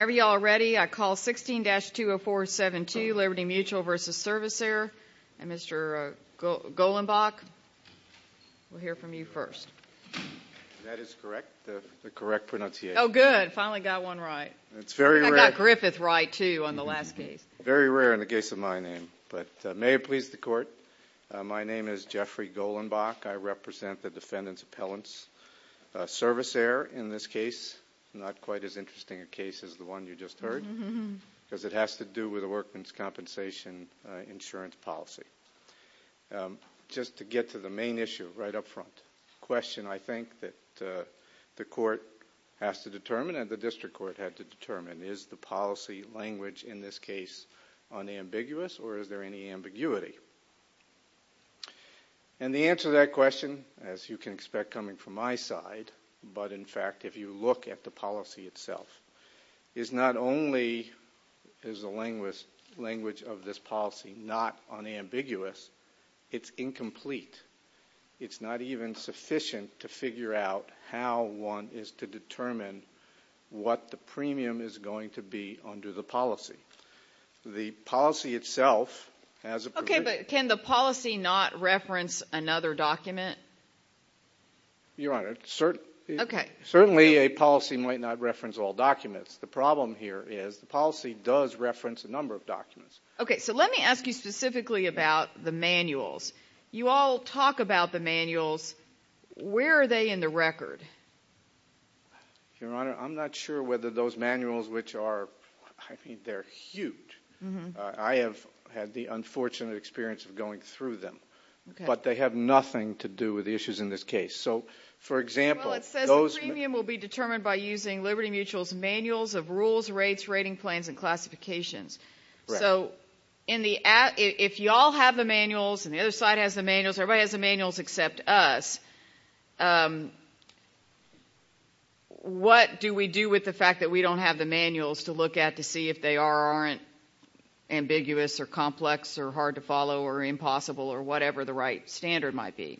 Whenever you all are ready, I call 16-20472, Liberty Mutual v. Servisair, and Mr. Golenbach, we'll hear from you first. That is correct, the correct pronunciation. Oh, good, finally got one right. It's very rare. I got Griffith right, too, on the last case. Very rare in the case of my name, but may it please the Court, my name is Jeffrey Golenbach. I represent the defendant's appellants. Servisair, in this case, not quite as interesting a case as the one you just heard, because it has to do with a workman's compensation insurance policy. Just to get to the main issue right up front, a question I think that the Court has to determine and the District Court had to determine, is the policy language in this case unambiguous, or is there any ambiguity? And the answer to that question, as you can expect coming from my side, but in fact if you look at the policy itself, is not only is the language of this policy not unambiguous, it's incomplete. It's not even sufficient to figure out how one is to determine what the premium is going to be under the policy. The policy itself has a provision... Okay, but can the policy not reference another document? Your Honor, certainly a policy might not reference all documents. The problem here is the policy does reference a number of documents. Okay, so let me ask you specifically about the manuals. You all talk about the manuals. Where are they in the record? Your Honor, I'm not sure whether those manuals, which are, I mean, they're huge. I have had the unfortunate experience of going through them, but they have nothing to do with the issues in this case. So, for example, those... Well, it says the premium will be determined by using Liberty Mutual's manuals of rules, rates, rating plans, and classifications. So if you all have the manuals and the other side has the manuals, everybody has the manuals except us, what do we do with the fact that we don't have the manuals to look at to see if they are or aren't ambiguous or complex or hard to follow or impossible or whatever the right standard might be?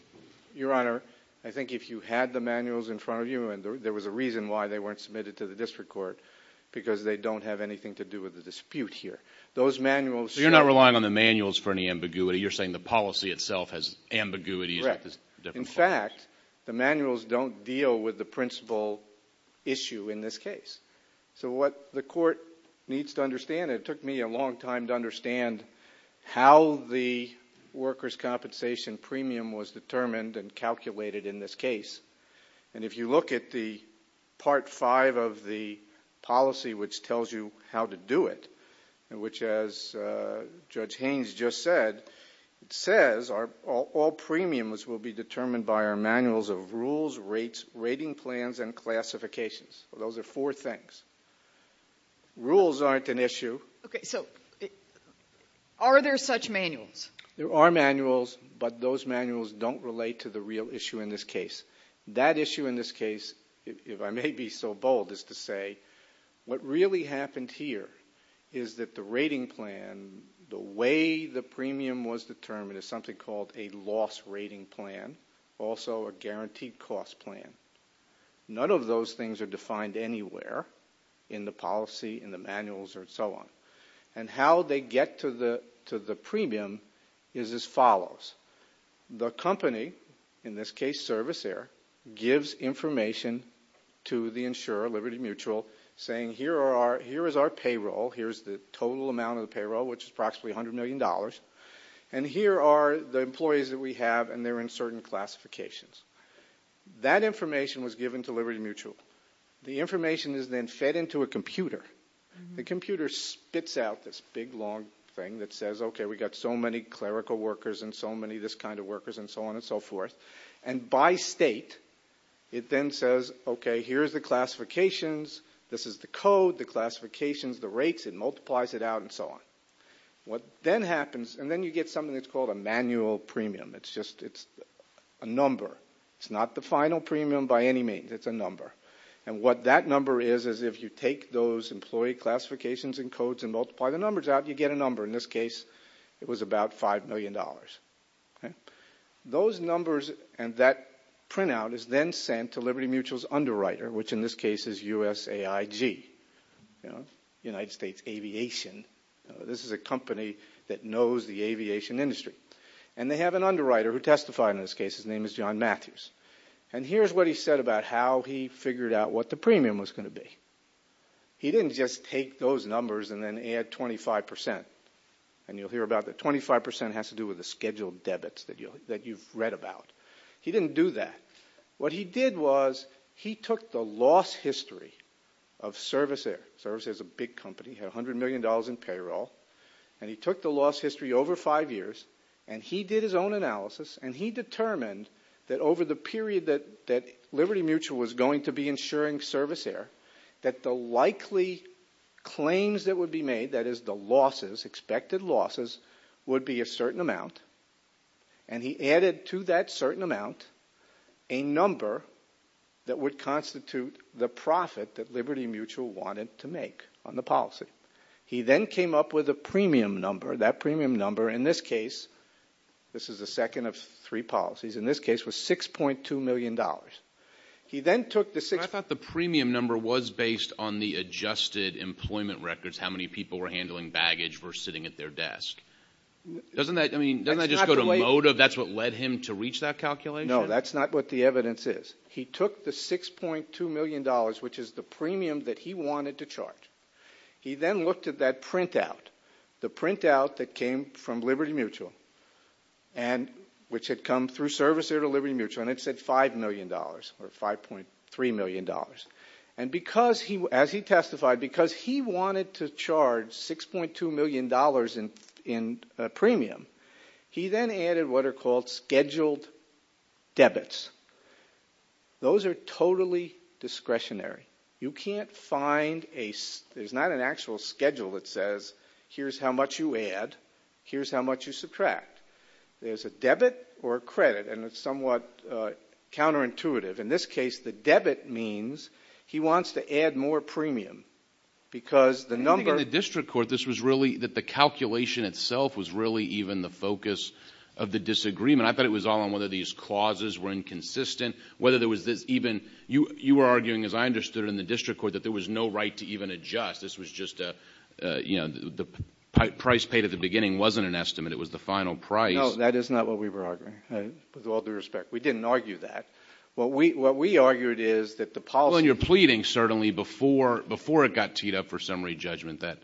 Your Honor, I think if you had the manuals in front of you, and there was a reason why they weren't submitted to the district court, because they don't have anything to do with the dispute here. Those manuals... So you're not relying on the manuals for any ambiguity. You're saying the policy itself has ambiguities. Correct. In fact, the manuals don't deal with the principal issue in this case. So what the court needs to understand, it took me a long time to understand how the workers' compensation premium was determined and calculated in this case. And if you look at the Part V of the policy, which tells you how to do it, which, as Judge Haynes just said, it says all premiums will be determined by our manuals of rules, rates, rating plans, and classifications. Those are four things. Rules aren't an issue. Okay, so are there such manuals? There are manuals, but those manuals don't relate to the real issue in this case. That issue in this case, if I may be so bold as to say, what really happened here is that the rating plan, the way the premium was determined is something called a loss rating plan, also a guaranteed cost plan. None of those things are defined anywhere in the policy, in the manuals, or so on. And how they get to the premium is as follows. The company, in this case Service Air, gives information to the insurer, Liberty Mutual, saying here is our payroll, here is the total amount of the payroll, which is approximately $100 million, and here are the employees that we have, and they're in certain classifications. That information was given to Liberty Mutual. The information is then fed into a computer. The computer spits out this big, long thing that says, okay, we've got so many clerical workers and so many this kind of workers, and so on and so forth. And by state, it then says, okay, here's the classifications, this is the code, the classifications, the rates, it multiplies it out, and so on. What then happens, and then you get something that's called a manual premium. It's just a number. It's not the final premium by any means. It's a number. And what that number is, is if you take those employee classifications and codes and multiply the numbers out, you get a number. In this case, it was about $5 million. Those numbers and that printout is then sent to Liberty Mutual's underwriter, which in this case is USAIG, United States Aviation. This is a company that knows the aviation industry. And they have an underwriter who testified in this case. His name is John Matthews. And here's what he said about how he figured out what the premium was going to be. He didn't just take those numbers and then add 25%. And you'll hear about the 25% has to do with the scheduled debits that you've read about. He didn't do that. What he did was he took the loss history of Service Air. Service Air is a big company. It had $100 million in payroll. And he took the loss history over five years, and he did his own analysis, and he determined that over the period that Liberty Mutual was going to be insuring Service Air, that the likely claims that would be made, that is the losses, expected losses, would be a certain amount. And he added to that certain amount a number that would constitute the profit that Liberty Mutual wanted to make on the policy. He then came up with a premium number. That premium number, in this case, this is the second of three policies, in this case, was $6.2 million. He then took the six. I thought the premium number was based on the adjusted employment records, how many people were handling baggage versus sitting at their desk. Doesn't that just go to motive? That's what led him to reach that calculation? No, that's not what the evidence is. He took the $6.2 million, which is the premium that he wanted to charge. He then looked at that printout. The printout that came from Liberty Mutual, which had come through Service Air to Liberty Mutual, and it said $5 million or $5.3 million. And as he testified, because he wanted to charge $6.2 million in premium, he then added what are called scheduled debits. Those are totally discretionary. You can't find a ‑‑ there's not an actual schedule that says here's how much you add, here's how much you subtract. There's a debit or a credit, and it's somewhat counterintuitive. In this case, the debit means he wants to add more premium because the number ‑‑ I think in the district court, this was really that the calculation itself was really even the focus of the disagreement. I thought it was all on whether these clauses were inconsistent, whether there was this even ‑‑ you were arguing, as I understood it in the district court, that there was no right to even adjust. This was just a, you know, the price paid at the beginning wasn't an estimate. It was the final price. No, that is not what we were arguing, with all due respect. We didn't argue that. What we argued is that the policy ‑‑ Well, you're pleading, certainly, before it got teed up for summary judgment, that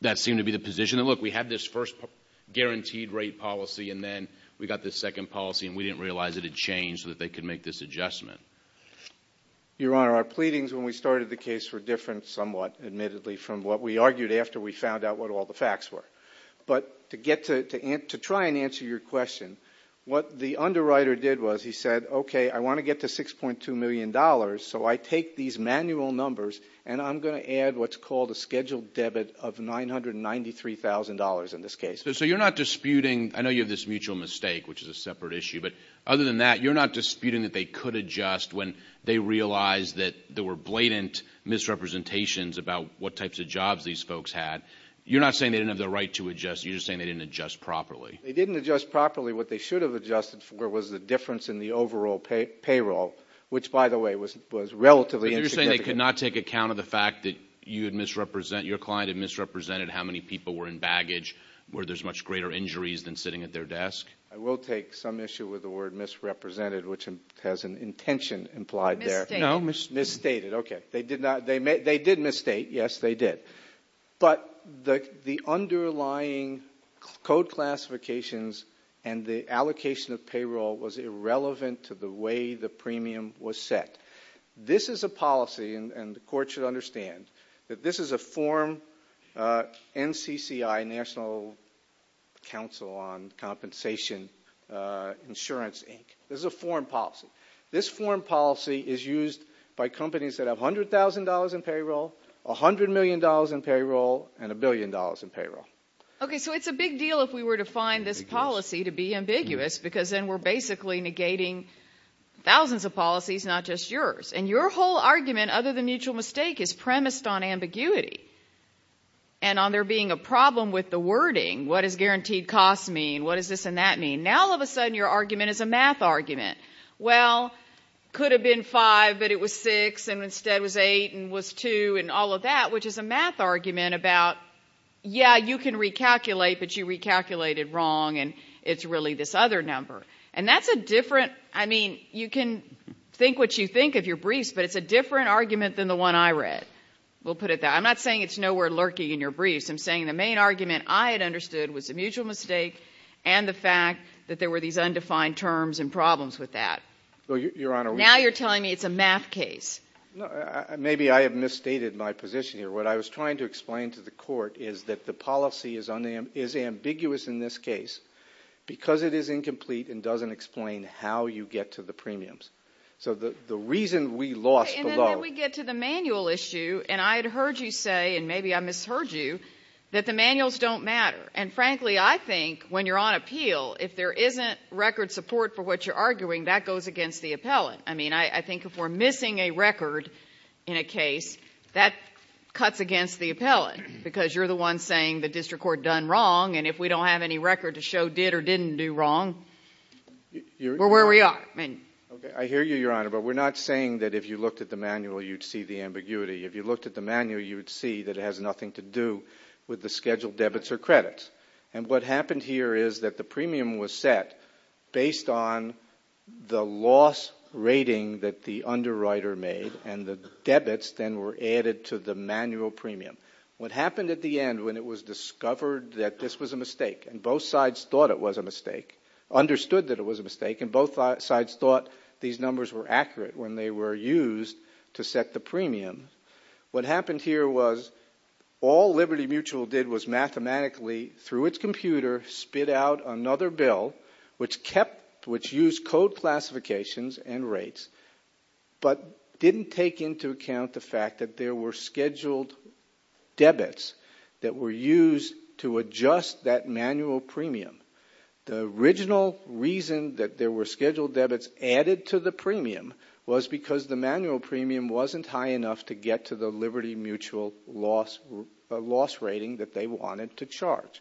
that seemed to be the position. Look, we had this first guaranteed rate policy, and then we got this second policy, and we didn't realize it had changed so that they could make this adjustment. Your Honor, our pleadings when we started the case were different somewhat, admittedly, from what we argued after we found out what all the facts were. But to get to ‑‑ to try and answer your question, what the underwriter did was he said, okay, I want to get to $6.2 million, so I take these manual numbers, and I'm going to add what's called a scheduled debit of $993,000 in this case. So you're not disputing ‑‑ I know you have this mutual mistake, which is a separate issue, but other than that, you're not disputing that they could adjust when they realized that there were blatant misrepresentations about what types of jobs these folks had. You're not saying they didn't have the right to adjust. You're just saying they didn't adjust properly. They didn't adjust properly. What they should have adjusted for was the difference in the overall payroll, which, by the way, was relatively insignificant. But you're saying they could not take account of the fact that you had misrepresented, your client had misrepresented how many people were in baggage, where there's much greater injuries than sitting at their desk? I will take some issue with the word misrepresented, which has an intention implied there. Misstated. Misstated, okay. They did not ‑‑ they did misstate. Yes, they did. But the underlying code classifications and the allocation of payroll was irrelevant to the way the premium was set. This is a policy, and the court should understand, that this is a form NCCI, National Council on Compensation Insurance Inc. This is a foreign policy. This foreign policy is used by companies that have $100,000 in payroll, $100 million in payroll, and $1 billion in payroll. Okay, so it's a big deal if we were to find this policy to be ambiguous because then we're basically negating thousands of policies, not just yours. And your whole argument, other than mutual mistake, is premised on ambiguity and on there being a problem with the wording. What does guaranteed costs mean? What does this and that mean? Now, all of a sudden, your argument is a math argument. Well, could have been five, but it was six, and instead was eight and was two and all of that, which is a math argument about, yeah, you can recalculate, but you recalculated wrong, and it's really this other number. And that's a different, I mean, you can think what you think of your briefs, but it's a different argument than the one I read. We'll put it that way. I'm not saying it's nowhere lurking in your briefs. I'm saying the main argument I had understood was a mutual mistake and the fact that there were these undefined terms and problems with that. Well, Your Honor. Now you're telling me it's a math case. Maybe I have misstated my position here. What I was trying to explain to the Court is that the policy is ambiguous in this case because it is incomplete and doesn't explain how you get to the premiums. So the reason we lost below. And then we get to the manual issue, and I had heard you say, and maybe I misheard you, that the manuals don't matter. And frankly, I think when you're on appeal, if there isn't record support for what you're arguing, that goes against the appellant. I mean, I think if we're missing a record in a case, that cuts against the appellant because you're the one saying the district court done wrong, and if we don't have any record to show did or didn't do wrong, we're where we are. I hear you, Your Honor, but we're not saying that if you looked at the manual, you'd see the ambiguity. If you looked at the manual, you'd see that it has nothing to do with the scheduled debits or credits. And what happened here is that the premium was set based on the loss rating that the underwriter made, and the debits then were added to the manual premium. What happened at the end when it was discovered that this was a mistake, and both sides thought it was a mistake, understood that it was a mistake, and both sides thought these numbers were accurate when they were used to set the premium, what happened here was all Liberty Mutual did was mathematically, through its computer, spit out another bill which used code classifications and rates, but didn't take into account the fact that there were scheduled debits that were used to adjust that manual premium. The original reason that there were scheduled debits added to the premium was because the manual premium wasn't high enough to get to the Liberty Mutual loss rating that they wanted to charge.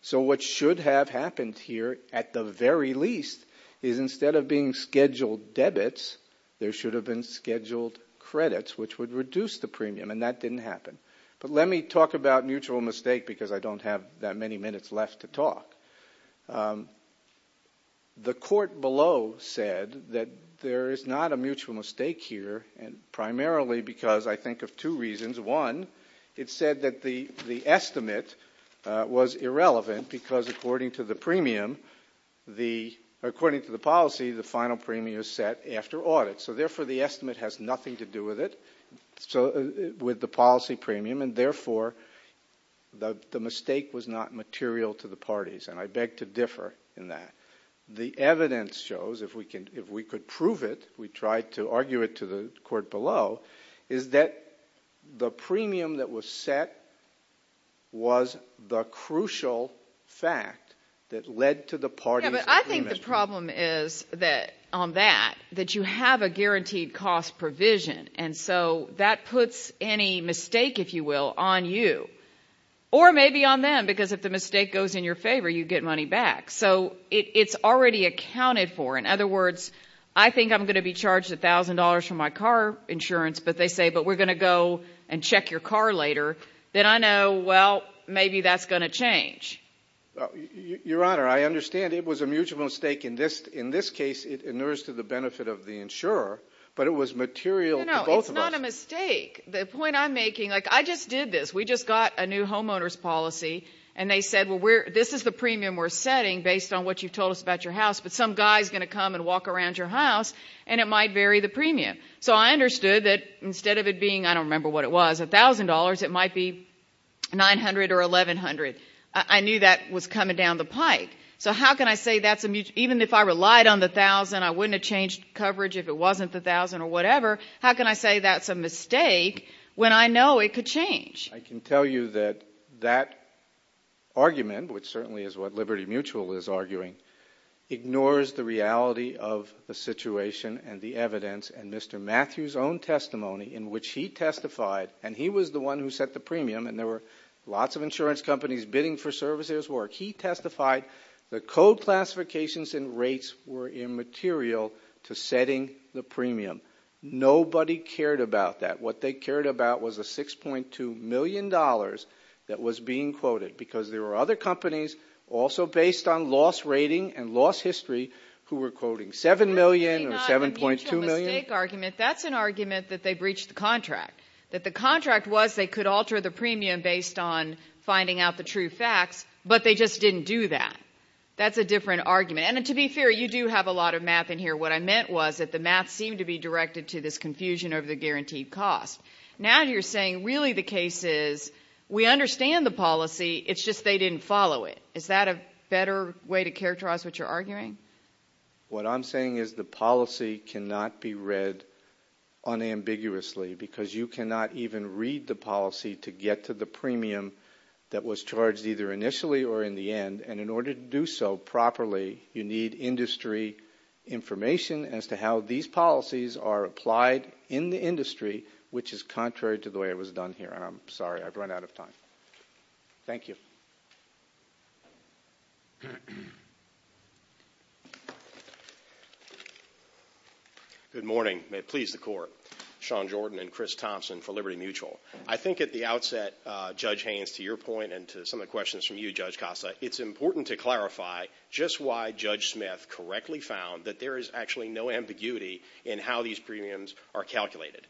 So what should have happened here, at the very least, is instead of being scheduled debits, there should have been scheduled credits, which would reduce the premium, and that didn't happen. But let me talk about mutual mistake because I don't have that many minutes left to talk. The court below said that there is not a mutual mistake here, primarily because I think of two reasons. One, it said that the estimate was irrelevant because, according to the policy, the final premium is set after audit. So therefore, the estimate has nothing to do with it, with the policy premium, and therefore, the mistake was not material to the parties. And I beg to differ in that. The evidence shows, if we could prove it, we tried to argue it to the court below, is that the premium that was set was the crucial fact that led to the parties agreement. Yeah, but I think the problem is that on that, that you have a guaranteed cost provision, and so that puts any mistake, if you will, on you, or maybe on them, because if the mistake goes in your favor, you get money back. So it's already accounted for. In other words, I think I'm going to be charged $1,000 for my car insurance, but they say, but we're going to go and check your car later. Then I know, well, maybe that's going to change. Your Honor, I understand it was a mutual mistake. In this case, it inures to the benefit of the insurer, but it was material to both of us. No, no, it's not a mistake. The point I'm making, like, I just did this. We just got a new homeowner's policy, and they said, well, this is the premium we're setting based on what you've told us about your house, but some guy is going to come and walk around your house, and it might vary the premium. So I understood that instead of it being, I don't remember what it was, $1,000, it might be $900 or $1,100. I knew that was coming down the pike. So how can I say that's a, even if I relied on the $1,000, I wouldn't have changed coverage if it wasn't the $1,000 or whatever. How can I say that's a mistake when I know it could change? I can tell you that that argument, which certainly is what Liberty Mutual is arguing, ignores the reality of the situation and the evidence and Mr. Matthews' own testimony in which he testified, and he was the one who set the premium, and there were lots of insurance companies bidding for services. He testified the code classifications and rates were immaterial to setting the premium. Nobody cared about that. What they cared about was the $6.2 million that was being quoted because there were other companies also based on loss rating and loss history who were quoting $7 million or $7.2 million. That's an argument that they breached the contract, that the contract was they could alter the premium based on finding out the true facts, but they just didn't do that. That's a different argument, and to be fair, you do have a lot of math in here. What I meant was that the math seemed to be directed to this confusion over the guaranteed cost. Now you're saying really the case is we understand the policy, it's just they didn't follow it. Is that a better way to characterize what you're arguing? What I'm saying is the policy cannot be read unambiguously because you cannot even read the policy to get to the premium that was charged either initially or in the end, and in order to do so properly, you need industry information as to how these policies are applied in the industry, which is contrary to the way it was done here. I'm sorry, I've run out of time. Thank you. Good morning. May it please the Court. Sean Jordan and Chris Thompson for Liberty Mutual. I think at the outset, Judge Haynes, to your point and to some of the questions from you, Judge Costa, it's important to clarify just why Judge Smith correctly found that there is actually no ambiguity in how these premiums are calculated.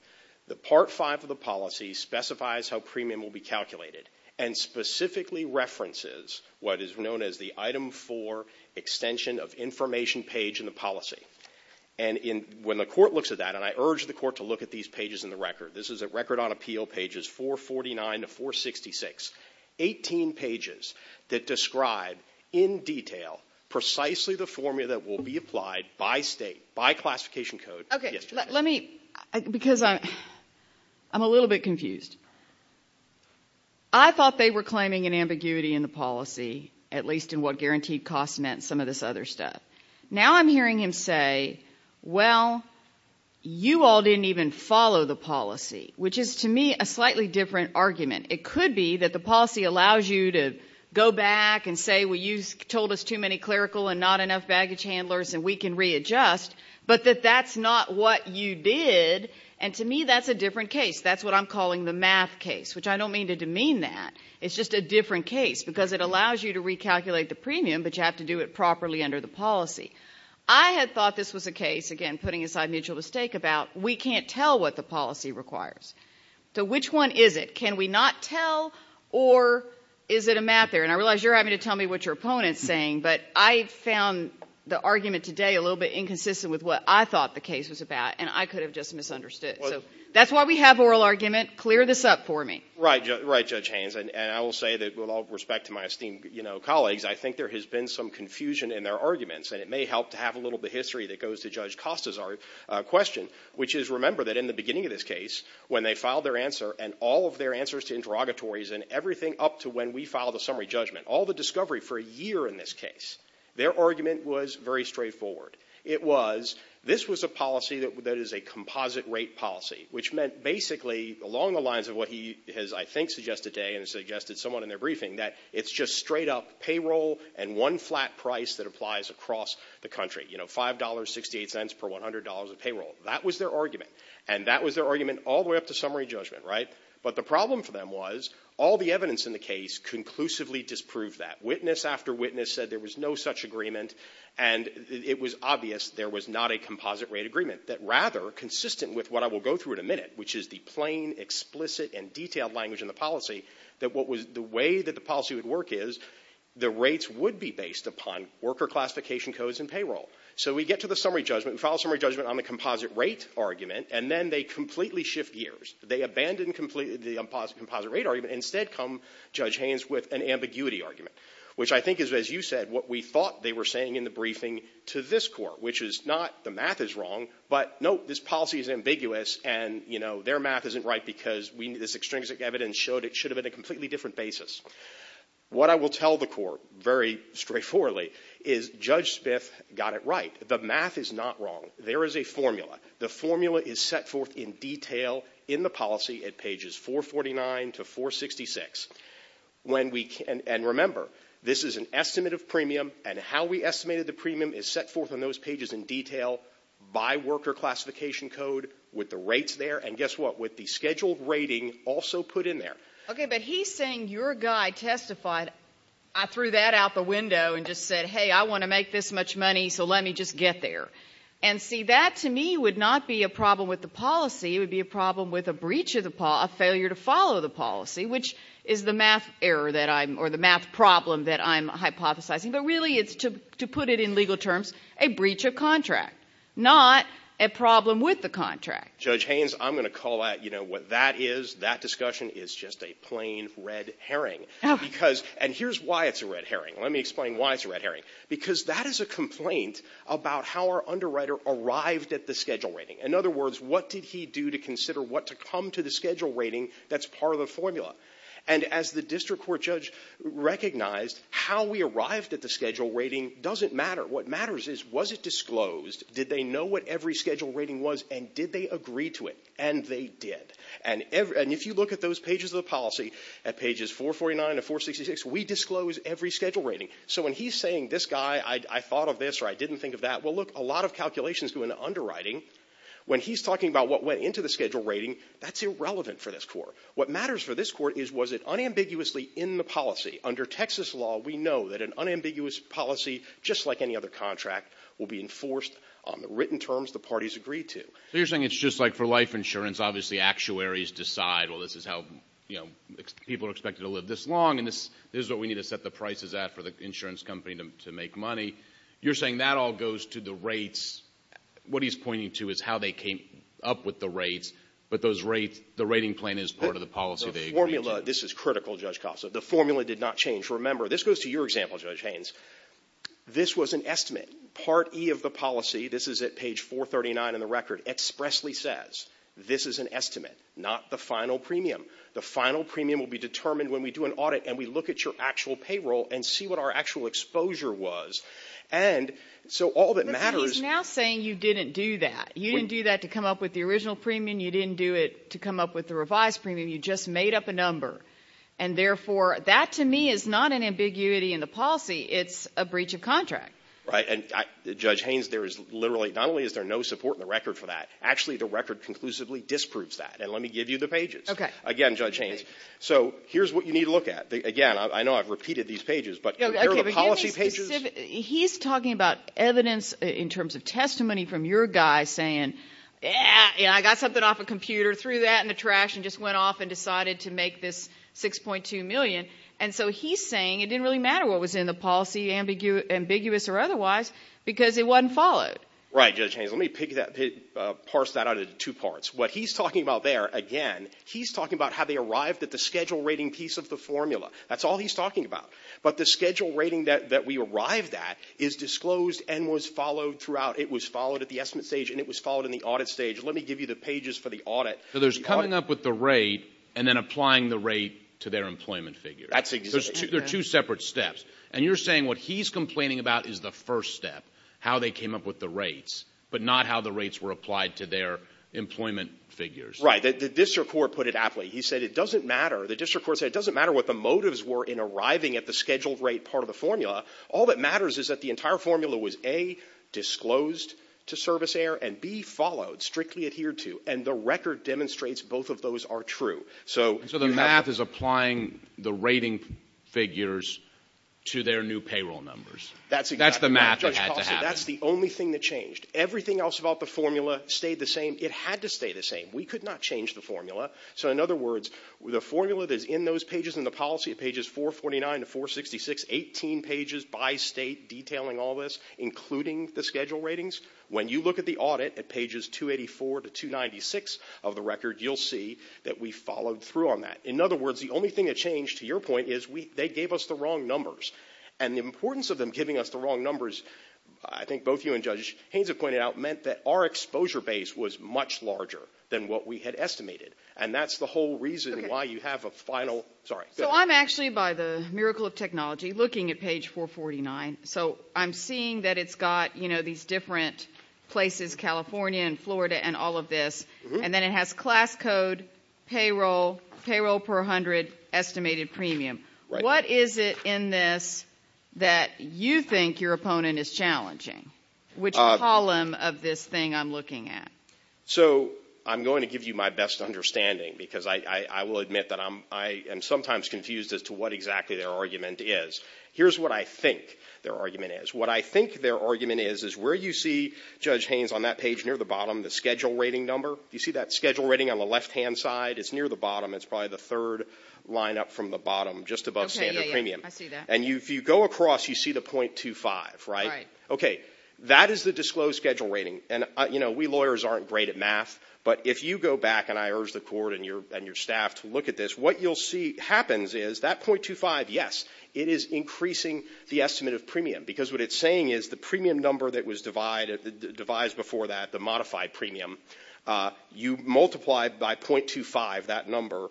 The Part 5 of the policy specifies how premium will be calculated and specifically references what is known as the Item 4 extension of information page in the policy. And when the Court looks at that, and I urge the Court to look at these pages in the record, this is a record on appeal pages 449 to 466, 18 pages that describe in detail precisely the formula that will be applied by state, by classification code. Okay, let me, because I'm a little bit confused. I thought they were claiming an ambiguity in the policy, at least in what guaranteed costs meant and some of this other stuff. Now I'm hearing him say, well, you all didn't even follow the policy, which is to me a slightly different argument. It could be that the policy allows you to go back and say, well, you told us too many clerical and not enough baggage handlers and we can readjust, but that that's not what you did, and to me that's a different case. That's what I'm calling the math case, which I don't mean to demean that. It's just a different case because it allows you to recalculate the premium, but you have to do it properly under the policy. I had thought this was a case, again, putting aside mutual mistake about we can't tell what the policy requires. So which one is it? Can we not tell or is it a math error? And I realize you're having to tell me what your opponent is saying, but I found the argument today a little bit inconsistent with what I thought the case was about, and I could have just misunderstood. So that's why we have oral argument. Clear this up for me. Right, Judge Haynes, and I will say that with all respect to my esteemed colleagues, I think there has been some confusion in their arguments, and it may help to have a little bit of history that goes to Judge Costa's question, which is remember that in the beginning of this case when they filed their answer and all of their answers to interrogatories and everything up to when we filed the summary judgment, all the discovery for a year in this case, their argument was very straightforward. It was this was a policy that is a composite rate policy, which meant basically along the lines of what he has, I think, suggested today and suggested somewhat in their briefing that it's just straight up payroll and one flat price that applies across the country, you know, $5.68 per $100 of payroll. That was their argument, and that was their argument all the way up to summary judgment, right? But the problem for them was all the evidence in the case conclusively disproved that. Witness after witness said there was no such agreement, and it was obvious there was not a composite rate agreement that rather consistent with what I will go through in a minute, which is the plain, explicit, and detailed language in the policy that what was the way that the policy would work is the rates would be based upon worker classification codes and payroll. So we get to the summary judgment. We file a summary judgment on the composite rate argument, and then they completely shift gears. They abandon the composite rate argument and instead come, Judge Haynes, with an ambiguity argument, which I think is, as you said, what we thought they were saying in the briefing to this Court, which is not the math is wrong, but no, this policy is ambiguous, and, you know, their math isn't right because this extrinsic evidence showed it should have been a completely different basis. What I will tell the Court very straightforwardly is Judge Smith got it right. The math is not wrong. There is a formula. The formula is set forth in detail in the policy at pages 449 to 466. And remember, this is an estimate of premium, and how we estimated the premium is set forth on those pages in detail by worker classification code with the rates there and, guess what, with the scheduled rating also put in there. Okay, but he's saying your guy testified. I threw that out the window and just said, hey, I want to make this much money, so let me just get there. And, see, that to me would not be a problem with the policy. It would be a problem with a breach of the policy, a failure to follow the policy, which is the math error that I'm or the math problem that I'm hypothesizing. But really it's, to put it in legal terms, a breach of contract, not a problem with the contract. Judge Haynes, I'm going to call out what that is. That discussion is just a plain red herring. And here's why it's a red herring. Let me explain why it's a red herring. Because that is a complaint about how our underwriter arrived at the schedule rating. In other words, what did he do to consider what to come to the schedule rating that's part of the formula? And as the district court judge recognized, how we arrived at the schedule rating doesn't matter. What matters is, was it disclosed? Did they know what every schedule rating was and did they agree to it? And they did. And if you look at those pages of the policy, at pages 449 to 466, we disclose every schedule rating. So when he's saying, this guy, I thought of this or I didn't think of that, well, look, a lot of calculations go into underwriting. When he's talking about what went into the schedule rating, that's irrelevant for this Court. What matters for this Court is, was it unambiguously in the policy? Under Texas law, we know that an unambiguous policy, just like any other contract, will be enforced on the written terms the parties agreed to. So you're saying it's just like for life insurance. Obviously actuaries decide, well, this is how people are expected to live this long and this is what we need to set the prices at for the insurance company to make money. You're saying that all goes to the rates. What he's pointing to is how they came up with the rates, but the rating plan is part of the policy they agreed to. The formula, this is critical, Judge Costa. The formula did not change. Remember, this goes to your example, Judge Haynes. This was an estimate. Part E of the policy, this is at page 439 in the record, expressly says, this is an estimate, not the final premium. The final premium will be determined when we do an audit and we look at your actual payroll and see what our actual exposure was. And so all that matters ---- But he's now saying you didn't do that. You didn't do that to come up with the original premium. You didn't do it to come up with the revised premium. You just made up a number. And, therefore, that to me is not an ambiguity in the policy. It's a breach of contract. Right. And, Judge Haynes, there is literally not only is there no support in the record for that, actually the record conclusively disproves that. And let me give you the pages. Okay. Again, Judge Haynes. So here's what you need to look at. Again, I know I've repeated these pages, but here are the policy pages. He's talking about evidence in terms of testimony from your guy saying, I got something off a computer, threw that in the trash, and just went off and decided to make this $6.2 million. And so he's saying it didn't really matter what was in the policy, ambiguous or otherwise, because it wasn't followed. Right, Judge Haynes. Let me parse that out into two parts. What he's talking about there, again, he's talking about how they arrived at the schedule rating piece of the formula. That's all he's talking about. But the schedule rating that we arrived at is disclosed and was followed throughout. It was followed at the estimate stage, and it was followed in the audit stage. Let me give you the pages for the audit. So there's coming up with the rate and then applying the rate to their employment figure. That's exactly right. So there are two separate steps. And you're saying what he's complaining about is the first step, how they came up with the rates, but not how the rates were applied to their employment figures. Right. The district court put it aptly. He said it doesn't matter. The district court said it doesn't matter what the motives were in arriving at the scheduled rate part of the formula. All that matters is that the entire formula was, A, disclosed to Service Air, and, B, followed, strictly adhered to. And the record demonstrates both of those are true. So you have to – So the math is applying the rating figures to their new payroll numbers. That's exactly right. That's the math that had to happen. Judge Colson, that's the only thing that changed. Everything else about the formula stayed the same. It had to stay the same. We could not change the formula. So in other words, the formula that is in those pages in the policy, pages 449 to 466, 18 pages by state detailing all this, including the schedule ratings, when you look at the audit at pages 284 to 296 of the record, you'll see that we followed through on that. In other words, the only thing that changed, to your point, is they gave us the wrong numbers. And the importance of them giving us the wrong numbers, I think both you and Judge Haynes have pointed out, meant that our exposure base was much larger than what we had estimated. And that's the whole reason why you have a final – Sorry. So I'm actually, by the miracle of technology, looking at page 449. So I'm seeing that it's got these different places, California and Florida and all of this, and then it has class code, payroll, payroll per 100, estimated premium. What is it in this that you think your opponent is challenging? Which column of this thing I'm looking at? So I'm going to give you my best understanding, because I will admit that I am sometimes confused as to what exactly their argument is. Here's what I think their argument is. What I think their argument is is where you see Judge Haynes on that page, near the bottom, the schedule rating number. You see that schedule rating on the left-hand side? It's near the bottom. It's probably the third line up from the bottom, just above standard premium. Okay, yeah, yeah, I see that. And if you go across, you see the .25, right? Right. Okay, that is the disclosed schedule rating. And, you know, we lawyers aren't great at math, but if you go back, and I urge the Court and your staff to look at this, what you'll see happens is that .25, yes, it is increasing the estimate of premium, because what it's saying is the premium number that was devised before that, the modified premium, you multiply by .25, that number,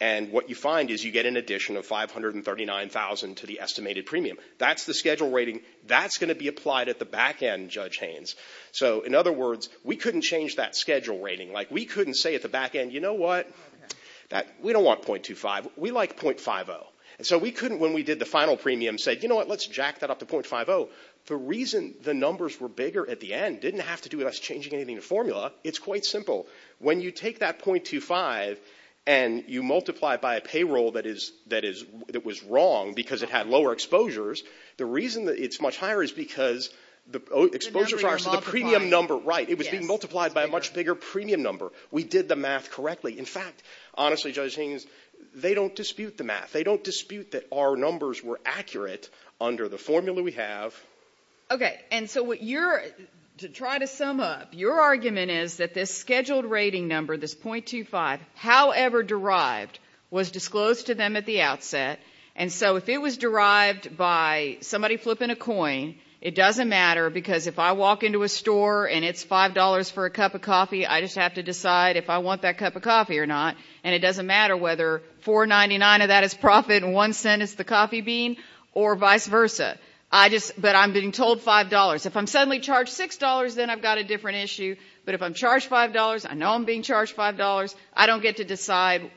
and what you find is you get an addition of 539,000 to the estimated premium. That's the schedule rating. That's going to be applied at the back end, Judge Haynes. So, in other words, we couldn't change that schedule rating. Like, we couldn't say at the back end, you know what, we don't want .25. We like .50. And so we couldn't, when we did the final premium, say, you know what, let's jack that up to .50. The reason the numbers were bigger at the end didn't have to do with us changing anything in the formula. It's quite simple. When you take that .25 and you multiply it by a payroll that was wrong because it had lower exposures, the reason that it's much higher is because the exposure is higher, so the premium number, right, it was being multiplied by a much bigger premium number. We did the math correctly. In fact, honestly, Judge Haynes, they don't dispute the math. They don't dispute that our numbers were accurate under the formula we have. Okay, and so what you're, to try to sum up, your argument is that this scheduled rating number, this .25, however derived, was disclosed to them at the outset. And so if it was derived by somebody flipping a coin, it doesn't matter because if I walk into a store and it's $5 for a cup of coffee, I just have to decide if I want that cup of coffee or not, and it doesn't matter whether $4.99 of that is profit and one cent is the coffee bean or vice versa. But I'm being told $5. If I'm suddenly charged $6, then I've got a different issue. But if I'm charged $5, I know I'm being charged $5, I don't get to decide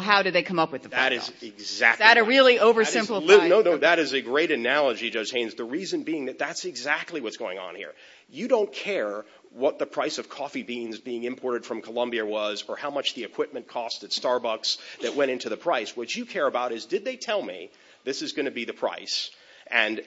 how do they come up with the formula. That is exactly right. Is that a really oversimplified argument? No, no, that is a great analogy, Judge Haynes, the reason being that that's exactly what's going on here. You don't care what the price of coffee beans being imported from Columbia was or how much the equipment cost at Starbucks that went into the price. What you care about is did they tell me this is going to be the price and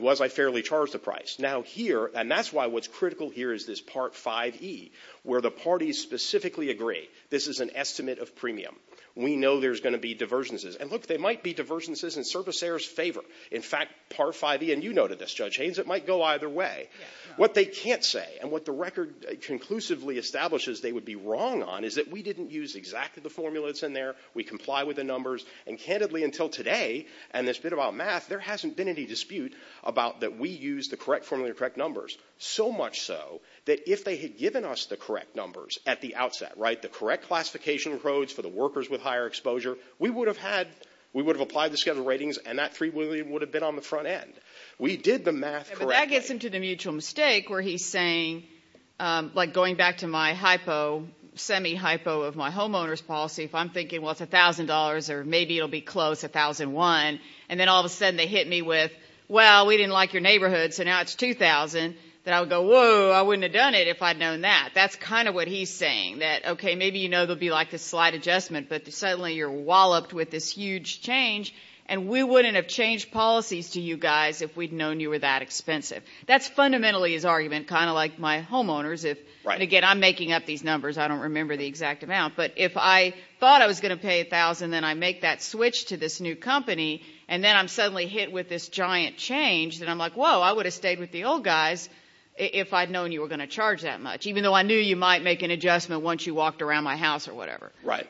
was I fairly charged the price? Now here, and that's why what's critical here is this part 5E where the parties specifically agree. This is an estimate of premium. We know there's going to be divergences. And, look, there might be divergences in servicers' favor. In fact, part 5E, and you noted this, Judge Haynes, it might go either way. What they can't say and what the record conclusively establishes they would be wrong on is that we didn't use exactly the formula that's in there, we comply with the numbers, and candidly until today and this bit about math, there hasn't been any dispute about that we used the correct formula and the correct numbers, so much so that if they had given us the correct numbers at the outset, right, the correct classification codes for the workers with higher exposure, we would have had, we would have applied the schedule ratings, and that $3 million would have been on the front end. We did the math correctly. But that gets into the mutual mistake where he's saying, like going back to my hypo, semi-hypo of my homeowner's policy, if I'm thinking, well, it's $1,000 or maybe it'll be close, $1,001, and then all of a sudden they hit me with, well, we didn't like your neighborhood, so now it's $2,000, then I would go, whoa, I wouldn't have done it if I'd known that. That's kind of what he's saying, that, okay, maybe you know there'll be like this slight adjustment, but suddenly you're walloped with this huge change, and we wouldn't have changed policies to you guys if we'd known you were that expensive. That's fundamentally his argument, kind of like my homeowners. And, again, I'm making up these numbers. I don't remember the exact amount. But if I thought I was going to pay $1,000, then I make that switch to this new company, and then I'm suddenly hit with this giant change, then I'm like, whoa, I would have stayed with the old guys if I'd known you were going to charge that much, even though I knew you might make an adjustment once you walked around my house or whatever. Right.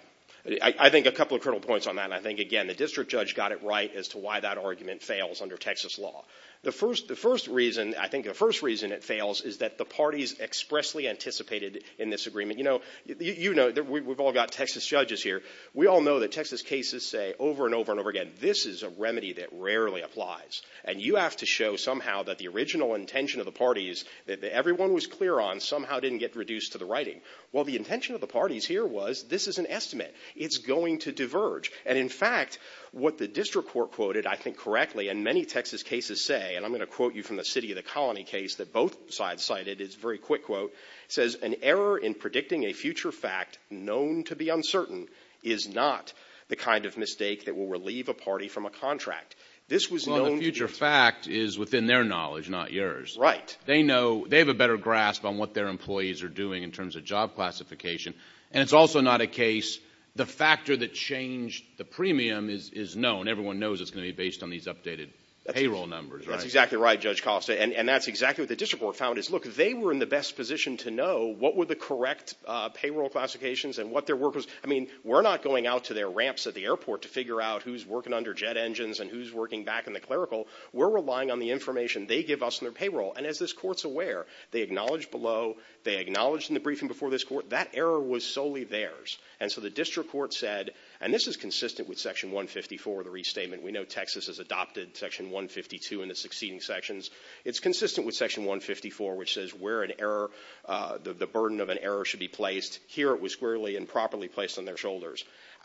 I think a couple of critical points on that, and I think, again, the district judge got it right as to why that argument fails under Texas law. The first reason, I think the first reason it fails is that the parties expressly anticipated in this agreement. You know, we've all got Texas judges here. We all know that Texas cases say over and over and over again, this is a remedy that rarely applies, and you have to show somehow that the original intention of the parties that everyone was clear on somehow didn't get reduced to the writing. Well, the intention of the parties here was this is an estimate. It's going to diverge. And, in fact, what the district court quoted, I think correctly, and many Texas cases say, and I'm going to quote you from the City of the Colony case that both sides cited, it's a very quick quote, says an error in predicting a future fact known to be uncertain is not the kind of mistake that will relieve a party from a contract. This was known to be. Well, the future fact is within their knowledge, not yours. Right. They know. They have a better grasp on what their employees are doing in terms of job classification, and it's also not a case the factor that changed the premium is known. Everyone knows it's going to be based on these updated payroll numbers. That's exactly right, Judge Coffs. And that's exactly what the district court found is, look, they were in the best position to know what were the correct payroll classifications and what their work was. I mean, we're not going out to their ramps at the airport to figure out who's working under jet engines and who's working back in the clerical. We're relying on the information they give us in their payroll. And as this court's aware, they acknowledged below, they acknowledged in the briefing before this court, that error was solely theirs. And so the district court said, and this is consistent with Section 154, the restatement. We know Texas has adopted Section 152 in the succeeding sections. It's consistent with Section 154, which says where an error, the burden of an error should be placed. Here it was squarely and properly placed on their shoulders.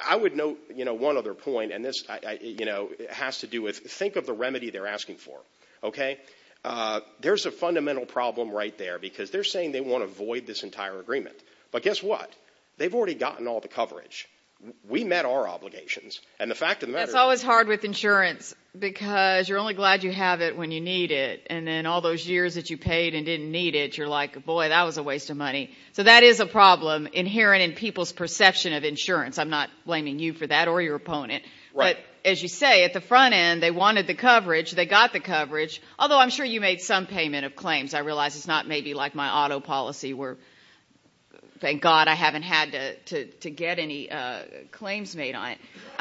I would note, you know, one other point, and this, you know, has to do with, think of the remedy they're asking for. Okay? There's a fundamental problem right there because they're saying they want to void this entire agreement. But guess what? They've already gotten all the coverage. We met our obligations. And the fact of the matter is. It's always hard with insurance because you're only glad you have it when you need it. And then all those years that you paid and didn't need it, you're like, boy, that was a waste of money. So that is a problem inherent in people's perception of insurance. I'm not blaming you for that or your opponent. Right. As you say, at the front end, they wanted the coverage. They got the coverage. Although I'm sure you made some payment of claims. I realize it's not maybe like my auto policy where, thank God, I haven't had to get any claims made on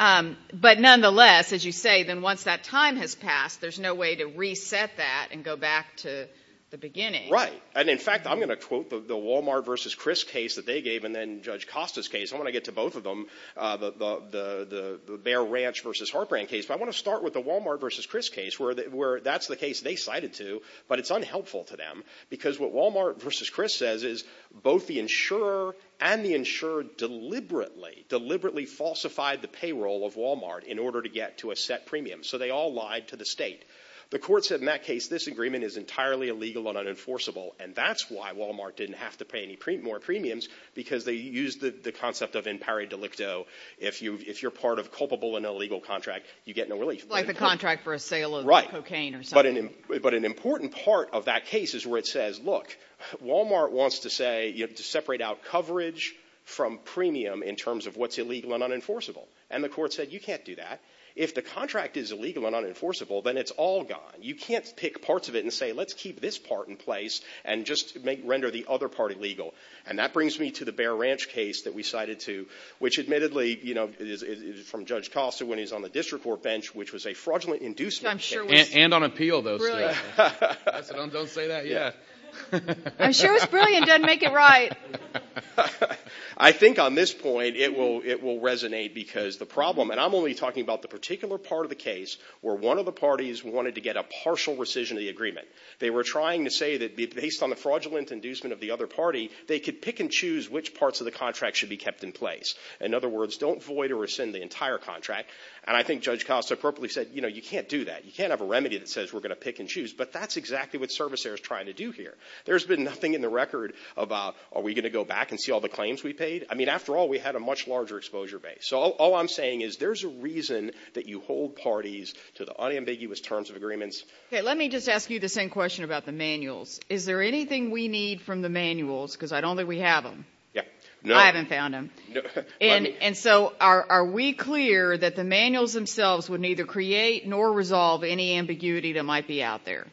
it. But nonetheless, as you say, then once that time has passed, there's no way to reset that and go back to the beginning. Right. And, in fact, I'm going to quote the Walmart v. Chris case that they gave and then Judge Costa's case. I want to get to both of them. The Bear Ranch v. Hartbrand case. But I want to start with the Walmart v. Chris case where that's the case they cited to. But it's unhelpful to them because what Walmart v. Chris says is both the insurer and the insurer deliberately, deliberately falsified the payroll of Walmart in order to get to a set premium. So they all lied to the state. The court said in that case this agreement is entirely illegal and unenforceable. And that's why Walmart didn't have to pay any more premiums because they used the concept of impari delicto. If you're part of a culpable and illegal contract, you get no relief. Like the contract for a sale of cocaine or something. Right. But an important part of that case is where it says, look, Walmart wants to separate out coverage from premium in terms of what's illegal and unenforceable. And the court said you can't do that. If the contract is illegal and unenforceable, then it's all gone. You can't pick parts of it and say, let's keep this part in place and just render the other part illegal. And that brings me to the Bear Ranch case that we cited to, which admittedly, you know, is from Judge Costa when he's on the district court bench, which was a fraudulent inducement. And on appeal, though. Don't say that yet. I'm sure it's brilliant. Don't make it right. I think on this point it will resonate because the problem and I'm only talking about the particular part of the case where one of the parties wanted to get a partial rescission of the agreement. They were trying to say that based on the fraudulent inducement of the other party, they could pick and choose which parts of the contract should be kept in place. In other words, don't void or rescind the entire contract. And I think Judge Costa appropriately said, you know, you can't do that. You can't have a remedy that says we're going to pick and choose. But that's exactly what ServiceAire is trying to do here. There's been nothing in the record about are we going to go back and see all the claims we paid? I mean, after all, we had a much larger exposure base. So all I'm saying is there's a reason that you hold parties to the unambiguous terms of agreements. Let me just ask you the same question about the manuals. Is there anything we need from the manuals? Because I don't think we have them. I haven't found them. And so are we clear that the manuals themselves would neither create nor resolve any ambiguity that might be out there?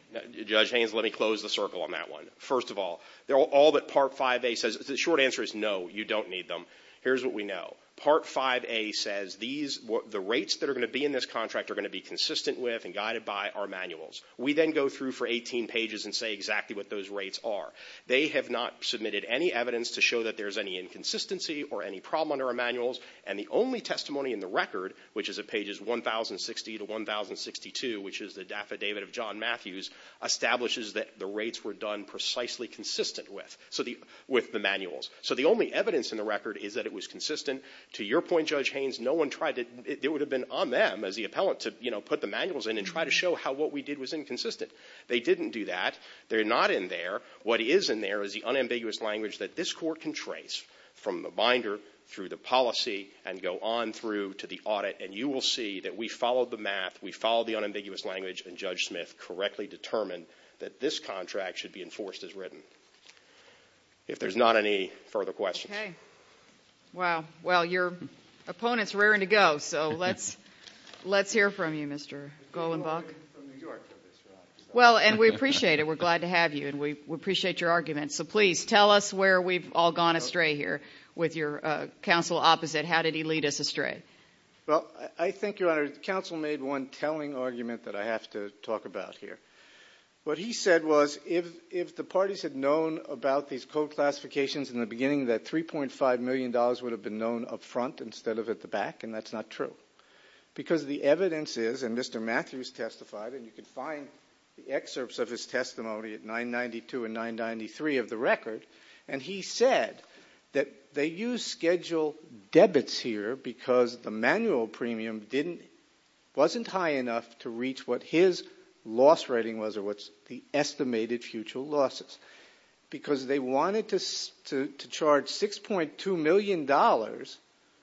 Judge Haynes, let me close the circle on that one. First of all, all that Part 5A says, the short answer is no, you don't need them. Here's what we know. Part 5A says the rates that are going to be in this contract are going to be consistent with and guided by our manuals. We then go through for 18 pages and say exactly what those rates are. They have not submitted any evidence to show that there's any inconsistency or any problem under our manuals. And the only testimony in the record, which is at pages 1060 to 1062, which is the Affidavit of John Matthews, establishes that the rates were done precisely consistent with the manuals. So the only evidence in the record is that it was consistent. To your point, Judge Haynes, it would have been on them as the appellant to put the manuals in and try to show how what we did was inconsistent. They didn't do that. They're not in there. What is in there is the unambiguous language that this Court can trace from the binder through the policy and go on through to the audit. And you will see that we followed the math, we followed the unambiguous language, and Judge Smith correctly determined that this contract should be enforced as written. If there's not any further questions. Okay. Wow. Well, your opponent's raring to go, so let's hear from you, Mr. Golenbach. Well, and we appreciate it. We're glad to have you, and we appreciate your argument. So please, tell us where we've all gone astray here with your counsel opposite. How did he lead us astray? Well, I think, Your Honor, the counsel made one telling argument that I have to talk about here. What he said was if the parties had known about these code classifications in the beginning, that $3.5 million would have been known up front instead of at the back, and that's not true. Because the evidence is, and Mr. Matthews testified, and you can find the excerpts of his testimony at 992 and 993 of the record, and he said that they used schedule debits here because the manual premium wasn't high enough to reach what his loss rating was or what's the estimated future losses. Because they wanted to charge $6.2 million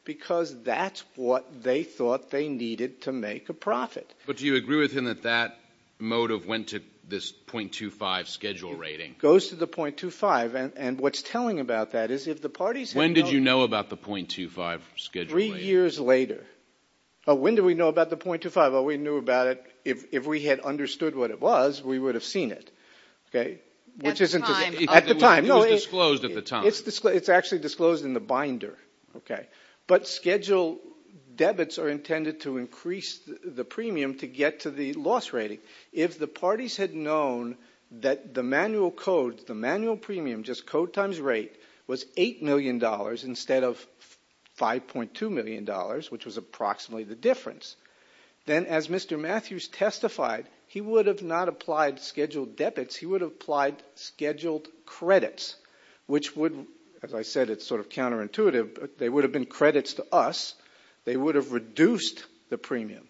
because that's what they thought they needed to make a profit. But do you agree with him that that motive went to this .25 schedule rating? It goes to the .25, and what's telling about that is if the parties had known. When did you know about the .25 schedule rating? Three years later. Oh, when did we know about the .25? Oh, we knew about it. If we had understood what it was, we would have seen it. Okay? At the time. At the time. It was disclosed at the time. It's actually disclosed in the binder. Okay. But schedule debits are intended to increase the premium to get to the loss rating. If the parties had known that the manual codes, the manual premium, just code times rate, was $8 million instead of $5.2 million, which was approximately the difference, then as Mr. Matthews testified, he would have not applied scheduled debits. He would have applied scheduled credits, which would, as I said, it's sort of counterintuitive, but they would have been credits to us. They would have reduced the premium.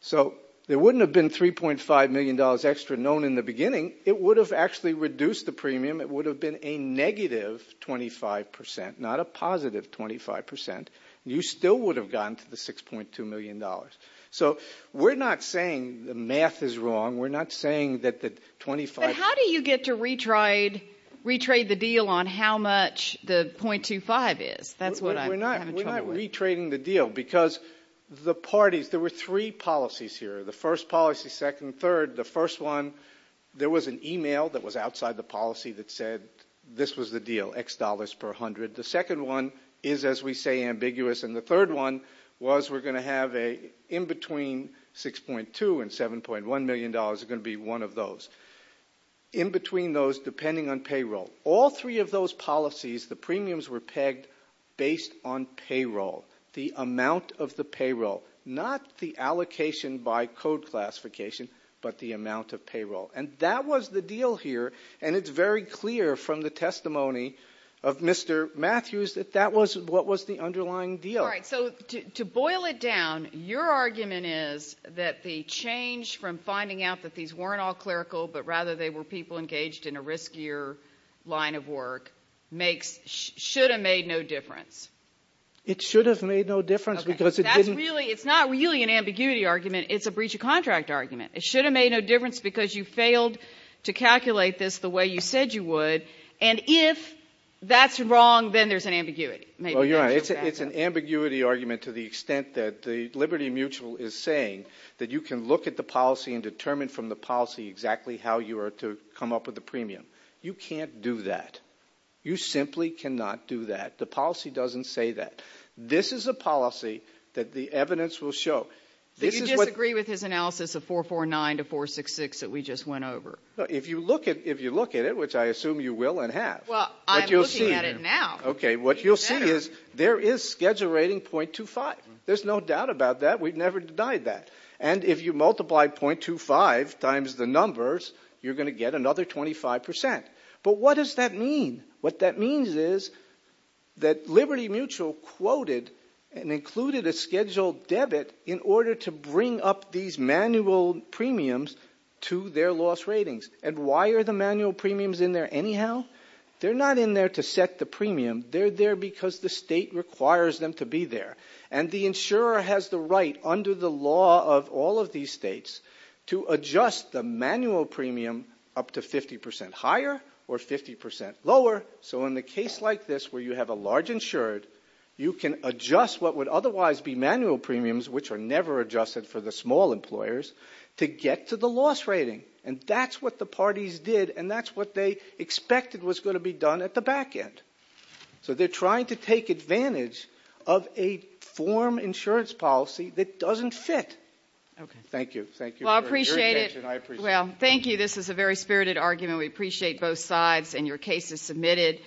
So there wouldn't have been $3.5 million extra known in the beginning. It would have actually reduced the premium. It would have been a negative 25%, not a positive 25%. You still would have gotten to the $6.2 million. So we're not saying the math is wrong. We're not saying that the 25% But how do you get to retrade the deal on how much the .25 is? That's what I'm having trouble with. We're not retrading the deal because the parties, there were three policies here. The first policy, second, third. The first one, there was an e-mail that was outside the policy that said this was the deal, X dollars per hundred. The second one is, as we say, ambiguous. And the third one was we're going to have in between 6.2 and $7.1 million is going to be one of those. In between those, depending on payroll. All three of those policies, the premiums were pegged based on payroll, the amount of the payroll, not the allocation by code classification, but the amount of payroll. And that was the deal here. And it's very clear from the testimony of Mr. Matthews that that was what was the underlying deal. All right, so to boil it down, your argument is that the change from finding out that these weren't all clerical, but rather they were people engaged in a riskier line of work, should have made no difference. It should have made no difference because it didn't It's not really an ambiguity argument. It's a breach of contract argument. It should have made no difference because you failed to calculate this the way you said you would. And if that's wrong, then there's an ambiguity. It's an ambiguity argument to the extent that the Liberty Mutual is saying that you can look at the policy and determine from the policy exactly how you are to come up with the premium. You can't do that. You simply cannot do that. The policy doesn't say that. This is a policy that the evidence will show. Did you disagree with his analysis of 449 to 466 that we just went over? If you look at it, which I assume you will and have. Well, I'm looking at it now. Okay, what you'll see is there is schedule rating .25. There's no doubt about that. We've never denied that. And if you multiply .25 times the numbers, you're going to get another 25%. But what does that mean? What that means is that Liberty Mutual quoted and included a scheduled debit in order to bring up these manual premiums to their loss ratings. And why are the manual premiums in there anyhow? They're not in there to set the premium. They're there because the state requires them to be there. And the insurer has the right, under the law of all of these states, to adjust the manual premium up to 50% higher or 50% lower. So in a case like this where you have a large insured, you can adjust what would otherwise be manual premiums, which are never adjusted for the small employers, to get to the loss rating. And that's what the parties did, and that's what they expected was going to be done at the back end. So they're trying to take advantage of a form insurance policy that doesn't fit. Thank you. Well, I appreciate it. Well, thank you. This is a very spirited argument. We appreciate both sides and your cases submitted.